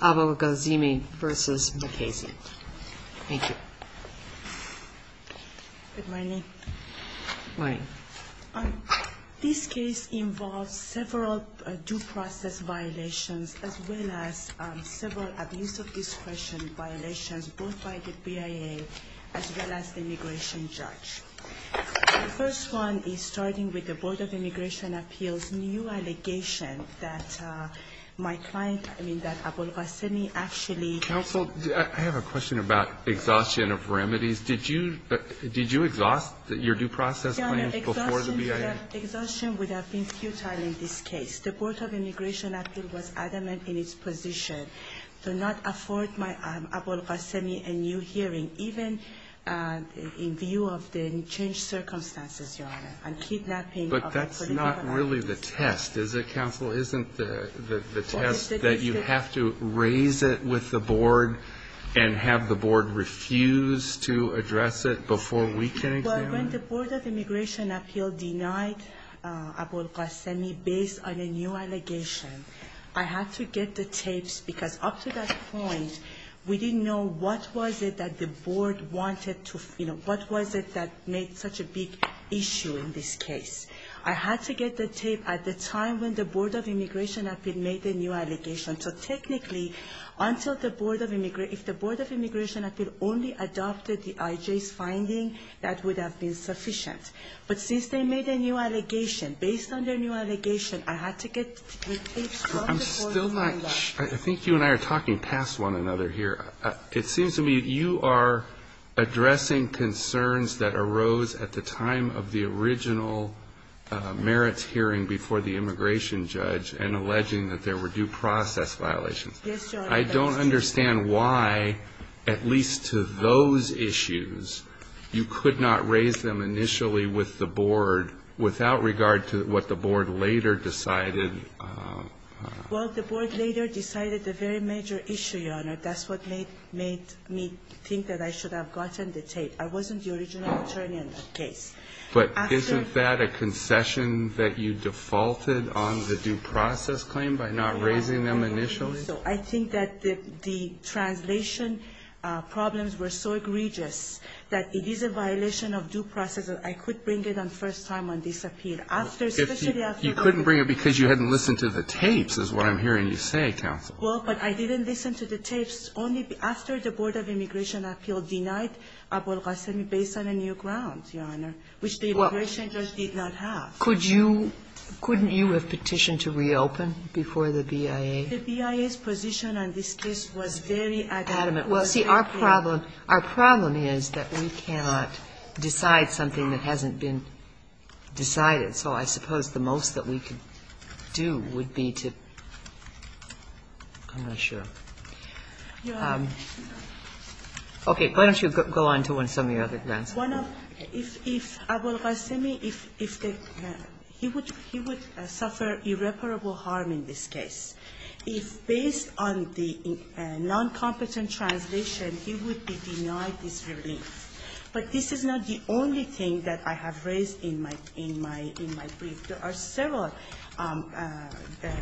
Good morning. This case involves several due process violations as well as several abuse of discretion violations both by the BIA as well as the immigration judge. The first one is starting with the Board of Immigration Appeals new allegation that my client, I mean that Abolghasemi actually — Counsel, I have a question about exhaustion of remedies. Did you — did you exhaust your due process claims before the BIA? Exhaustion would have been futile in this case. The Board of Immigration Appeals was adamant in its position to not afford my — Abolghasemi a new hearing even in view of the changed circumstances, Your Honor, and kidnapping of a political activist. But that's not really the test, is it, Counsel? Isn't the test that you have to raise it with the Board and have the Board refuse to address it before we can examine it? Well, when the Board of Immigration Appeals denied Abolghasemi based on a new allegation, I had to get the tapes because up to that point, we didn't know what was it that the issue in this case. I had to get the tape at the time when the Board of Immigration Appeals made the new allegation. So technically, until the Board of — if the Board of Immigration Appeals only adopted the IJ's finding, that would have been sufficient. But since they made a new allegation, based on their new allegation, I had to get the tapes from the Board of Immigration Appeals. I'm still not — I think you and I are talking past one another here. It seems to me that you are addressing concerns that arose at the time of the original merits hearing before the immigration judge and alleging that there were due process violations. Yes, Your Honor. I don't understand why, at least to those issues, you could not raise them initially with the Board without regard to what the Board later decided — I don't think that I should have gotten the tape. I wasn't the original attorney in that case. But isn't that a concession that you defaulted on the due process claim by not raising them initially? No, Your Honor. So I think that the translation problems were so egregious that it is a violation of due process that I could bring it on first time on this appeal after — You couldn't bring it because you hadn't listened to the tapes is what I'm hearing you say, counsel. Well, but I didn't listen to the tapes only after the Board of Immigration Appeals denied Abol Ghasemi based on a new ground, Your Honor, which the immigration judge did not have. Could you — couldn't you have petitioned to reopen before the BIA? The BIA's position on this case was very adamant. Well, see, our problem — our problem is that we cannot decide something that hasn't been decided. So I suppose the most that we could do would be to — I'm not sure. Your Honor — Okay. Why don't you go on to some of your other grounds? One of — if Abol Ghasemi, if the — he would — he would suffer irreparable harm in this case. If based on the noncompetent translation, he would be denied this relief. But this is not the only thing that I have raised in my — in my — in my brief. There are several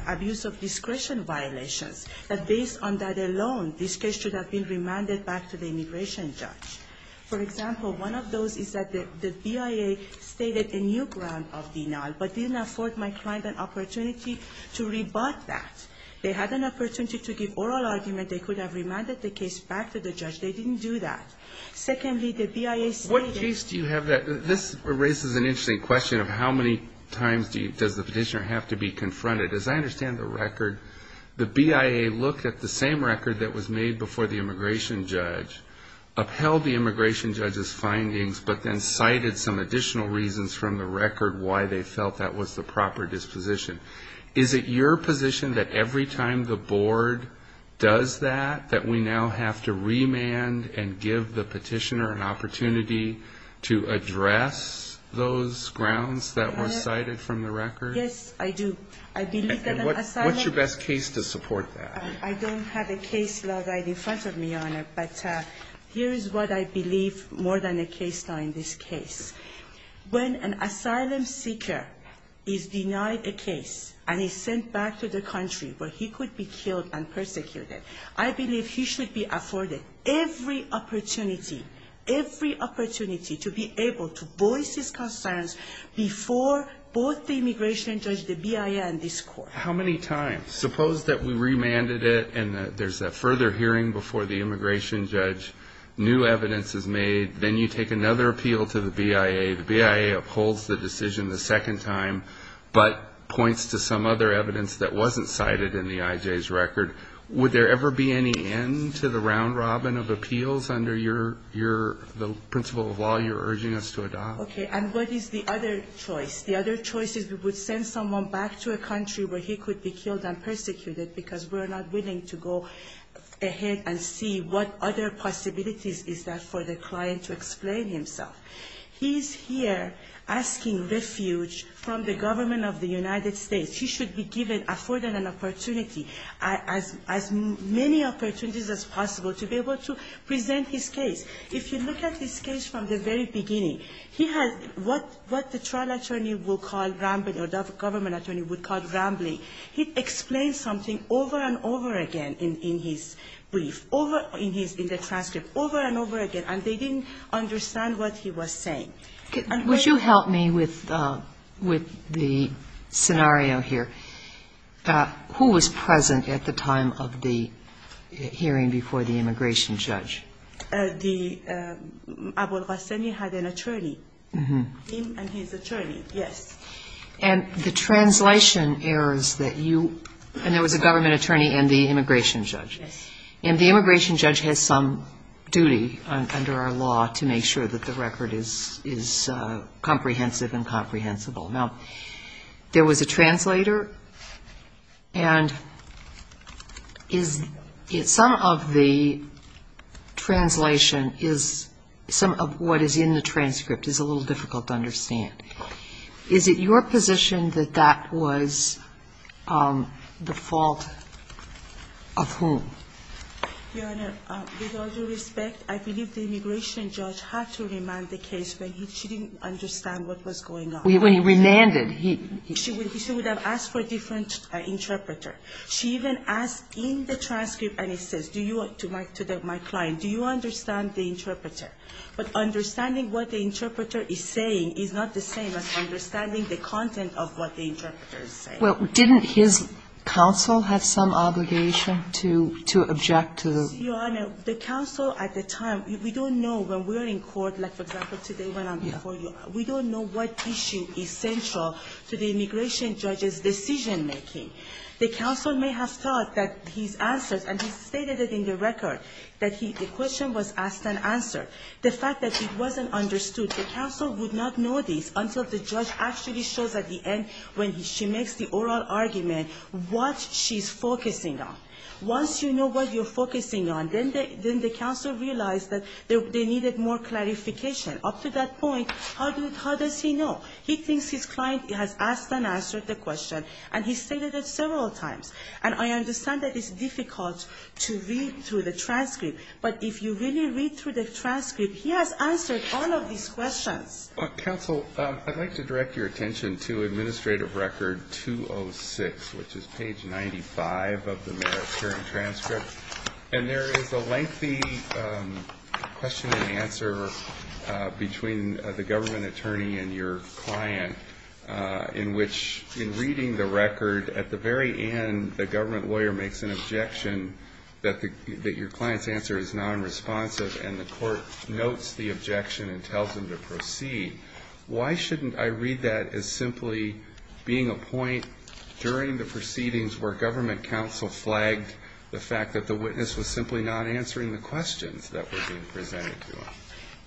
abuse of discretion violations that, based on that alone, this case should have been remanded back to the immigration judge. For example, one of those is that the BIA stated a new ground of denial but didn't afford my client an opportunity to rebut that. They had an opportunity to give oral argument. They could have remanded the case back to the judge. They didn't do that. Secondly, the BIA — What case do you have that — this raises an interesting question of how many times do you — does the petitioner have to be confronted? As I understand the record, the BIA looked at the same record that was made before the immigration judge, upheld the immigration judge's findings, but then cited some additional reasons from the record why they felt that was the proper disposition. Is it your position that every time the board does that, that we now have to give the petitioner an opportunity to address those grounds that were cited from the record? Yes, I do. I believe that an asylum — And what's your best case to support that? I don't have a case law right in front of me, Your Honor, but here is what I believe more than a case law in this case. When an asylum seeker is denied a case and is sent back to the country where he should be afforded every opportunity, every opportunity to be able to voice his concerns before both the immigration judge, the BIA, and this court. How many times? Suppose that we remanded it and there's a further hearing before the immigration judge, new evidence is made, then you take another appeal to the BIA, the BIA upholds the decision the second time, but points to some other evidence that wasn't cited in the IJ's record. Would there ever be any end to the round-robin of appeals under the principle of law you're urging us to adopt? Okay. And what is the other choice? The other choice is we would send someone back to a country where he could be killed and persecuted because we're not willing to go ahead and see what other possibilities is there for the client to explain himself. He's here asking refuge from the government of the United States. He should be given, afforded an opportunity, as many opportunities as possible to be able to present his case. If you look at his case from the very beginning, he has what the trial attorney will call rambling, or the government attorney would call rambling. He explains something over and over again in his brief, in the transcript, over and over again, and they didn't understand what he was saying. Would you help me with the scenario here? Who was present at the time of the hearing before the immigration judge? The – Abol Ghassani had an attorney, him and his attorney, yes. And the translation errors that you – and there was a government attorney and the immigration judge. Yes. And the immigration judge has some duty under our law to make sure that the record is comprehensive and comprehensible. Now, there was a translator and is – some of the translation is – some of what is in the transcript is a little difficult to understand. Is it your position that that was the fault of whom? Your Honor, with all due respect, I believe the immigration judge had to remand the case when he – she didn't understand what was going on. When he remanded, he – She would have asked for a different interpreter. She even asked in the transcript and he says, do you – to my client, do you understand the interpreter? But understanding what the interpreter is saying is not the same as understanding the content of what the interpreter is saying. Well, didn't his counsel have some obligation to object to the – Your Honor, the counsel at the time – we don't know when we're in court, like, for example, today when I'm before you, we don't know what issue is central to the immigration judge's decision-making. The counsel may have thought that his answers – and he stated it in the record, that he – the question was asked and answered. The fact that it wasn't understood, the counsel would not know this until the judge actually shows at the end when she makes the oral argument what she's focusing on. Once you know what you're focusing on, then the counsel realized that they needed more clarification. Up to that point, how does he know? He thinks his client has asked and answered the question, and he stated it several times. And I understand that it's difficult to read through the transcript. But if you really read through the transcript, he has answered all of these questions. Counsel, I'd like to direct your attention to Administrative Record 206, which is page 95 of the Merit Hearing Transcript. And there is a lengthy question and answer between the government attorney and your client in which, in reading the record, at the very end, the government lawyer makes an objection that the – that your client's answer is nonresponsive, and the court notes the objection and tells him to proceed. Why shouldn't I read that as simply being a point during the proceedings where government counsel flagged the fact that the witness was simply not answering the questions that were being presented to him?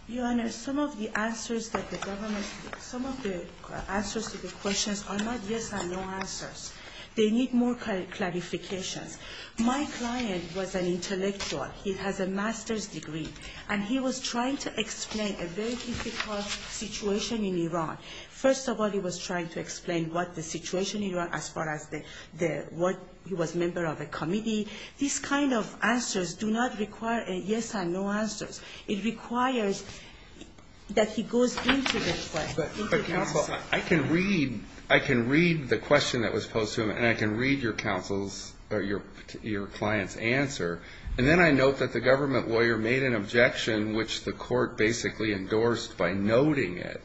Your Honor, some of the answers that the government – some of the answers to the questions are not yes and no answers. They need more clarifications. My client was an intellectual. He has a master's degree, and he was trying to explain a very difficult situation in Iran. First of all, he was trying to explain what the situation in Iran as far as the – what – he was a member of a committee. These kind of answers do not require a yes and no answers. It requires that he goes into the question, into the answer. But counsel, I can read – I can read the question that was posed to him, and I can read your counsel's – or your client's answer, and then I note that the government lawyer made an objection which the court basically endorsed by noting it,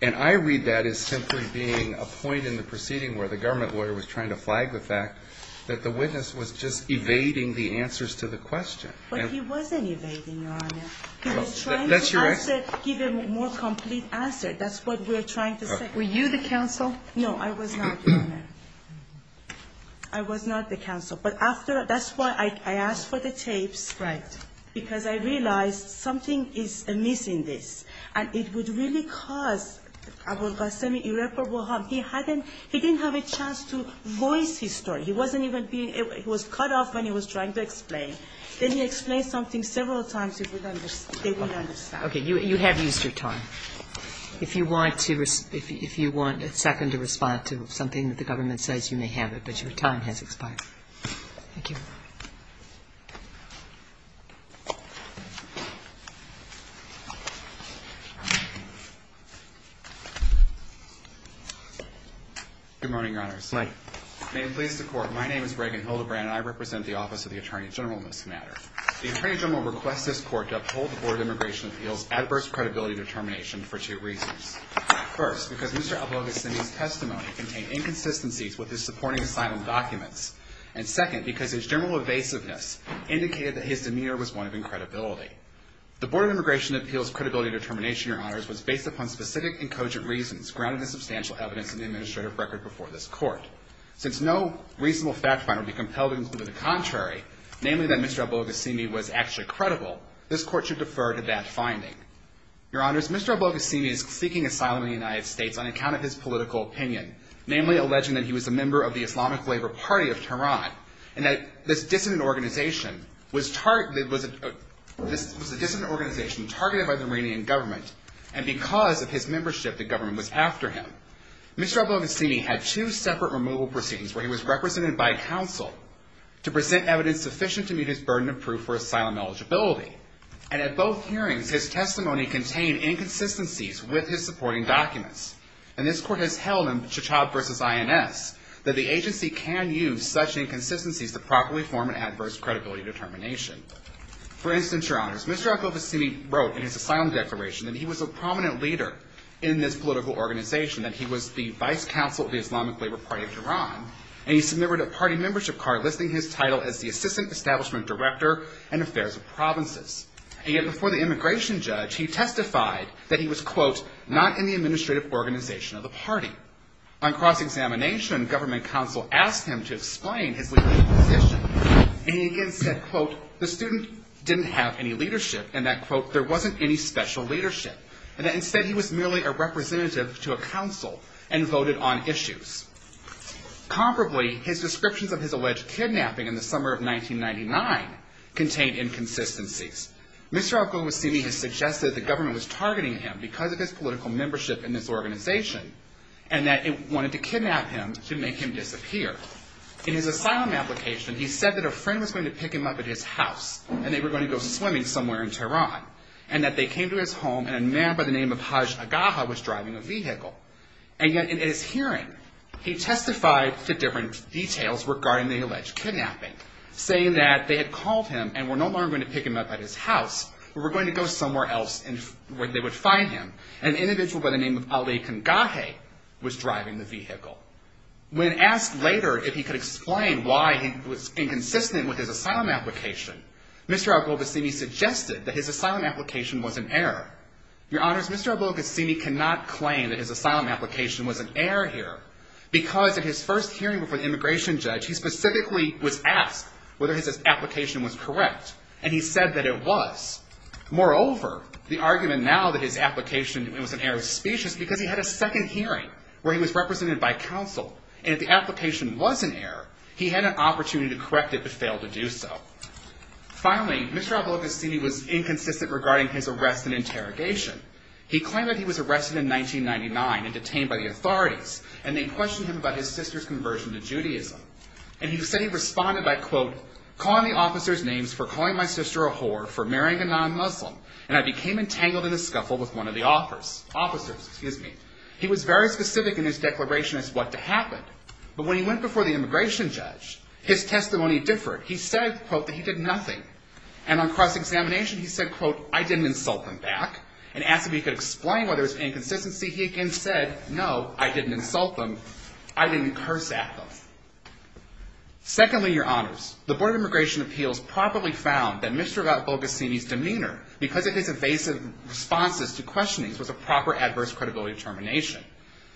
and I read that as simply being a point in the proceeding where the government lawyer was trying to flag the fact that the witness was just evading the answers to the question. But he wasn't evading, Your Honor. He was trying to answer – give a more complete answer. That's what we're trying to say. Were you the counsel? No, I was not, Your Honor. I was not the counsel. But after – that's why I asked for the tapes. Right. Because I realized something is amiss in this, and it would really cause Abu al-Ghassemi irreparable harm. He hadn't – he didn't have a chance to voice his story. He wasn't even being – he was cut off when he was trying to explain. Then he explained something several times that they wouldn't understand. Okay. You have used your time. If you want to – if you want a second to respond to something that the government says, you may have it. But your time has expired. Thank you. Good morning, Your Honors. Good morning. May it please the Court, my name is Reagan Hildebrand, and I represent the Office of the Attorney General in this matter. The Attorney General requests this Court to uphold the Board of Immigration Appeals' adverse credibility determination for two reasons. First, because Mr. Abu al-Ghassemi's testimony contained inconsistencies with his supporting asylum documents. And second, because his general evasiveness indicated that his demeanor was one of incredibility. The Board of Immigration Appeals' credibility determination, Your Honors, was based upon specific and cogent reasons grounded in substantial evidence in the administrative record before this Court. Since no reasonable fact finder would be compelled to conclude the contrary, namely that Mr. Abu al-Ghassemi was actually credible, this Court should defer to that finding. Your Honors, Mr. Abu al-Ghassemi is seeking asylum in the United States on account of his political opinion, namely alleging that he was a member of the Islamic Labor Party of Tehran, and that this dissident organization was targeted – was a – was a dissident organization targeted by the Iranian government, and because of his membership, the government was after him. Mr. Abu al-Ghassemi had two separate removal proceedings where he was represented by counsel to present evidence sufficient to meet his burden of proof for asylum eligibility. And at both hearings, his testimony contained inconsistencies with his supporting documents. And this Court has held in Chachab v. INS that the agency can use such inconsistencies to properly form an adverse credibility determination. For instance, Your Honors, Mr. Abu al-Ghassemi wrote in his asylum declaration that he was a prominent leader in this political organization, that he was the vice counsel of the Islamic Labor Party of Tehran, and he submitted a party membership card listing his title as the Assistant Establishment Director in Affairs of Provinces. And yet before the immigration judge, he testified that he was, quote, not in the administrative organization of the party. On cross-examination, government counsel asked him to explain his legal position, and he again said, quote, the student didn't have any leadership, and that, quote, there wasn't any special leadership, and that, instead, he was merely a representative to a council and voted on issues. Comparably, his descriptions of his alleged kidnapping in the summer of 1999 contained inconsistencies. Mr. Abu al-Ghassemi has suggested that the government was targeting him because of his political membership in this organization and that it wanted to kidnap him to make him disappear. In his asylum application, he said that a friend was going to pick him up at his house and they were going to go swimming somewhere in Tehran, and that they came to his home and a man by the name of Hajj Agaha was driving a vehicle. And yet, in his hearing, he testified to different details regarding the alleged kidnapping, saying that they had called him and were no longer going to pick him up at his house, but were going to go somewhere else where they would find him, and an individual by When asked later if he could explain why he was inconsistent with his asylum application, Mr. Abu al-Ghassemi suggested that his asylum application was an error. Your Honors, Mr. Abu al-Ghassemi cannot claim that his asylum application was an error here, because at his first hearing before the immigration judge, he specifically was asked whether his application was correct, and he said that it was. Moreover, the argument now that his application was an error of speech is because he had a counsel, and if the application was an error, he had an opportunity to correct it, but failed to do so. Finally, Mr. Abu al-Ghassemi was inconsistent regarding his arrest and interrogation. He claimed that he was arrested in 1999 and detained by the authorities, and they questioned him about his sister's conversion to Judaism. And he said he responded by, quote, calling the officers' names for calling my sister a whore for marrying a non-Muslim, and I became entangled in a scuffle with one of the officers. Excuse me. He was very specific in his declaration as what to happen, but when he went before the immigration judge, his testimony differed. He said, quote, that he did nothing, and on cross-examination, he said, quote, I didn't insult them back, and asked if he could explain why there was inconsistency. He again said, no, I didn't insult them. I didn't curse at them. Secondly, Your Honors, the Board of Immigration Appeals properly found that Mr. Abu al-Ghassemi's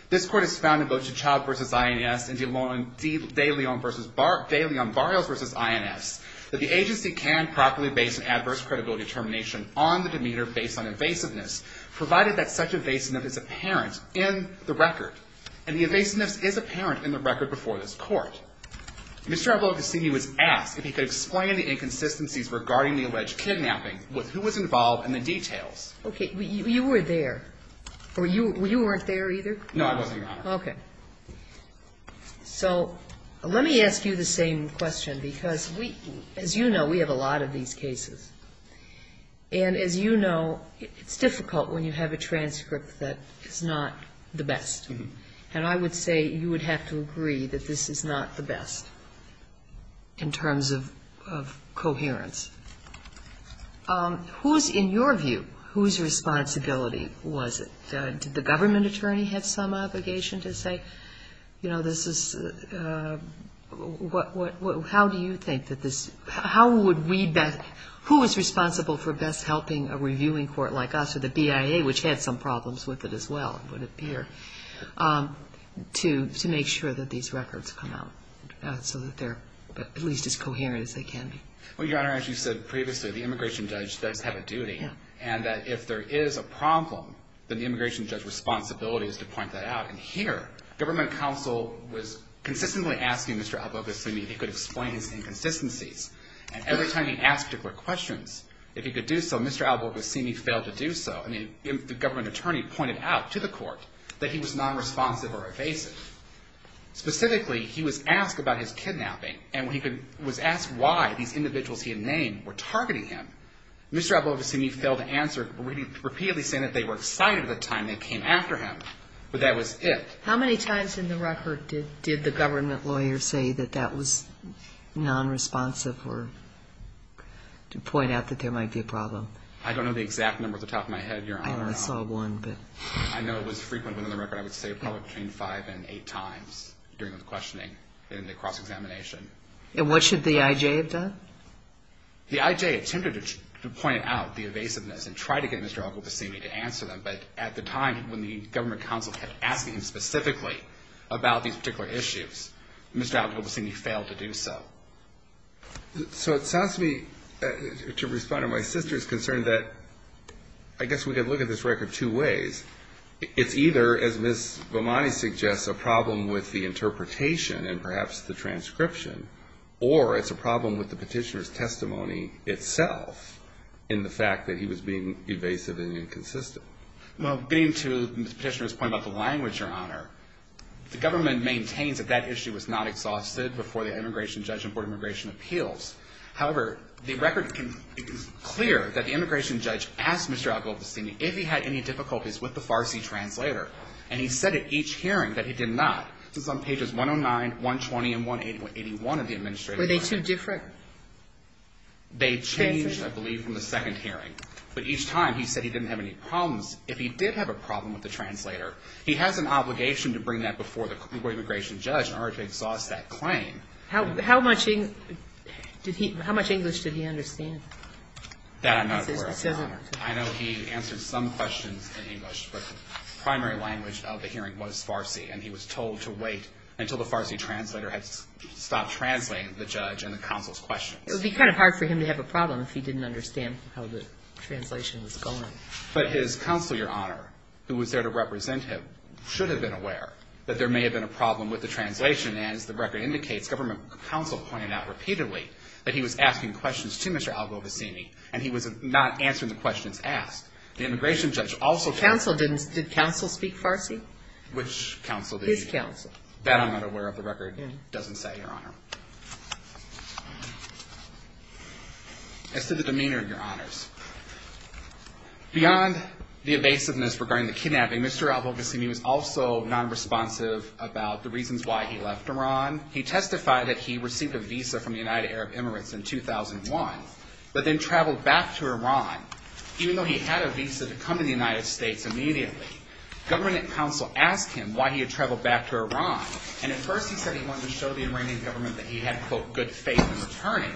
This court has found in both T'Chall versus INS and De Leon Barrios versus INS that the agency can properly base an adverse credibility determination on the demeanor based on evasiveness, provided that such evasiveness is apparent in the record, and the evasiveness is apparent in the record before this court. Mr. Abu al-Ghassemi was asked if he could explain the inconsistencies regarding the alleged kidnapping with who was involved and the details. Okay. You were there. Or you weren't there either? No, I wasn't, Your Honor. Okay. So let me ask you the same question, because we, as you know, we have a lot of these cases. And as you know, it's difficult when you have a transcript that is not the best. And I would say you would have to agree that this is not the best in terms of coherence. Who is, in your view, whose responsibility was it? Did the government attorney have some obligation to say, you know, this is, how do you think that this, how would we best, who was responsible for best helping a reviewing court like us or the BIA, which had some problems with it as well, it would appear, to make sure that these records come out so that they're at least as coherent as they can be? Well, Your Honor, as you said previously, the immigration judge does have a duty. Yeah. And that if there is a problem, then the immigration judge's responsibility is to point that out. And here, government counsel was consistently asking Mr. Al-Boghossiani if he could explain his inconsistencies. And every time he asked particular questions, if he could do so, Mr. Al-Boghossiani failed to do so. And the government attorney pointed out to the court that he was non-responsive or evasive. Specifically, he was asked about his kidnapping, and he was asked why these individuals he had named were targeting him. Mr. Al-Boghossiani failed to answer, repeatedly saying that they were excited at the time they came after him. But that was it. How many times in the record did the government lawyer say that that was non-responsive or to point out that there might be a problem? I don't know the exact number off the top of my head, Your Honor. I saw one, but. I know it was frequent within the record. I would say probably between five and eight times during the questioning in the cross-examination. And what should the I.J. have done? The I.J. attempted to point out the evasiveness and try to get Mr. Al-Boghossiani to answer them. But at the time, when the government counsel had asked him specifically about these particular issues, Mr. Al-Boghossiani failed to do so. So it sounds to me, to respond to my sister's concern, that I guess we could look at this record two ways. It's either, as Ms. Vomani suggests, a problem with the interpretation and perhaps the transcription, or it's a problem with the petitioner's testimony itself in the fact that he was being evasive and inconsistent. Well, getting to Mr. Petitioner's point about the language, Your Honor, the government maintains that that issue was not exhausted before the immigration judge and board of immigration appeals. However, the record is clear that the immigration judge asked Mr. Al-Boghossiani if he had any problems with the Farsi translator. And he said at each hearing that he did not. This is on pages 109, 120, and 181 of the administrative record. Were they too different? They changed, I believe, from the second hearing. But each time, he said he didn't have any problems. If he did have a problem with the translator, he has an obligation to bring that before the immigration judge in order to exhaust that claim. How much English did he understand? That I'm not aware of, Your Honor. I know he answered some questions in English, but the primary language of the hearing was Farsi. And he was told to wait until the Farsi translator had stopped translating the judge and the counsel's questions. It would be kind of hard for him to have a problem if he didn't understand how the translation was going. But his counsel, Your Honor, who was there to represent him, should have been aware that there may have been a problem with the translation. And as the record indicates, government counsel pointed out repeatedly that he was asking questions to Mr. Al-Ghovasini, and he was not answering the questions asked. The immigration judge also... Counsel didn't... Did counsel speak Farsi? Which counsel did he... His counsel. That I'm not aware of. The record doesn't say, Your Honor. As to the demeanor, Your Honors, beyond the evasiveness regarding the kidnapping, Mr. Al-Ghovasini was also nonresponsive about the reasons why he left Iran. He testified that he received a visa from the United Arab Emirates in 2001, but then traveled back to Iran, even though he had a visa to come to the United States immediately. Government counsel asked him why he had traveled back to Iran, and at first he said he wanted to show the Iranian government that he had, quote, good faith in returning.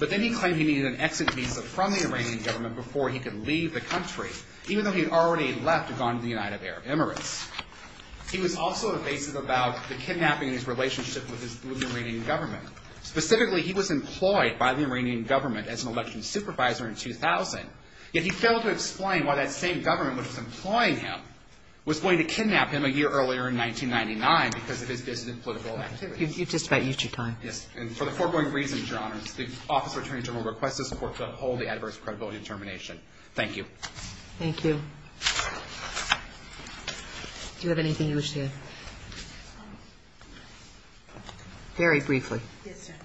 But then he claimed he needed an exit visa from the Iranian government before he could leave the country, even though he had already left and gone to the United Arab Emirates. He was also evasive about the kidnapping and his relationship with the Iranian government. Specifically, he was employed by the Iranian government as an election supervisor in 2000, yet he failed to explain why that same government which was employing him was going to kidnap him a year earlier in 1999 because of his dissident political activities. You've just about used your time. Yes. And for the foregoing reasons, Your Honors, the office of attorney general requests this court to uphold the adverse credibility determination. Thank you. Thank you. Do you have anything you wish to add? Very briefly. Yes, Your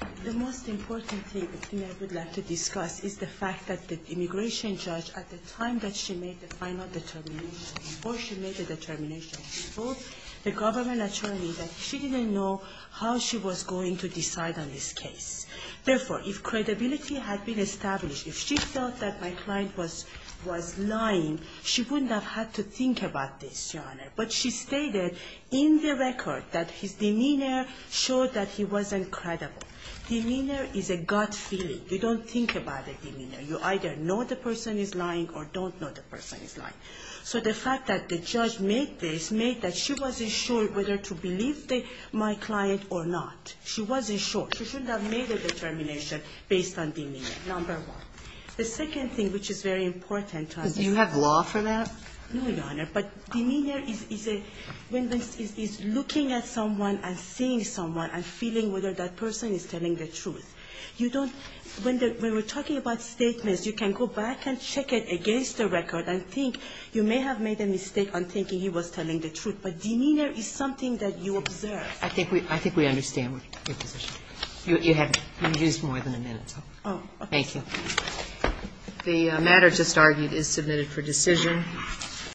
Honor. The most important thing I would like to discuss is the fact that the immigration judge, at the time that she made the final determination, before she made the determination, told the government attorney that she didn't know how she was going to decide on this case. Therefore, if credibility had been established, if she felt that my client was lying, she wouldn't have had to think about this, Your Honor. But she stated in the record that his demeanor showed that he wasn't credible. Demeanor is a gut feeling. You don't think about a demeanor. You either know the person is lying or don't know the person is lying. So the fact that the judge made this made that she wasn't sure whether to believe my client or not. She wasn't sure. She shouldn't have made a determination based on demeanor, number one. The second thing, which is very important to understand — Do you have law for that? No, Your Honor. But demeanor is a — is looking at someone and seeing someone and feeling whether that person is telling the truth. You don't — when we're talking about statements, you can go back and check it against the record and think you may have made a mistake on thinking he was telling the truth, but demeanor is something that you observe. I think we understand your position. You have more than a minute. Oh, okay. Thank you. The matter just argued is submitted for decision.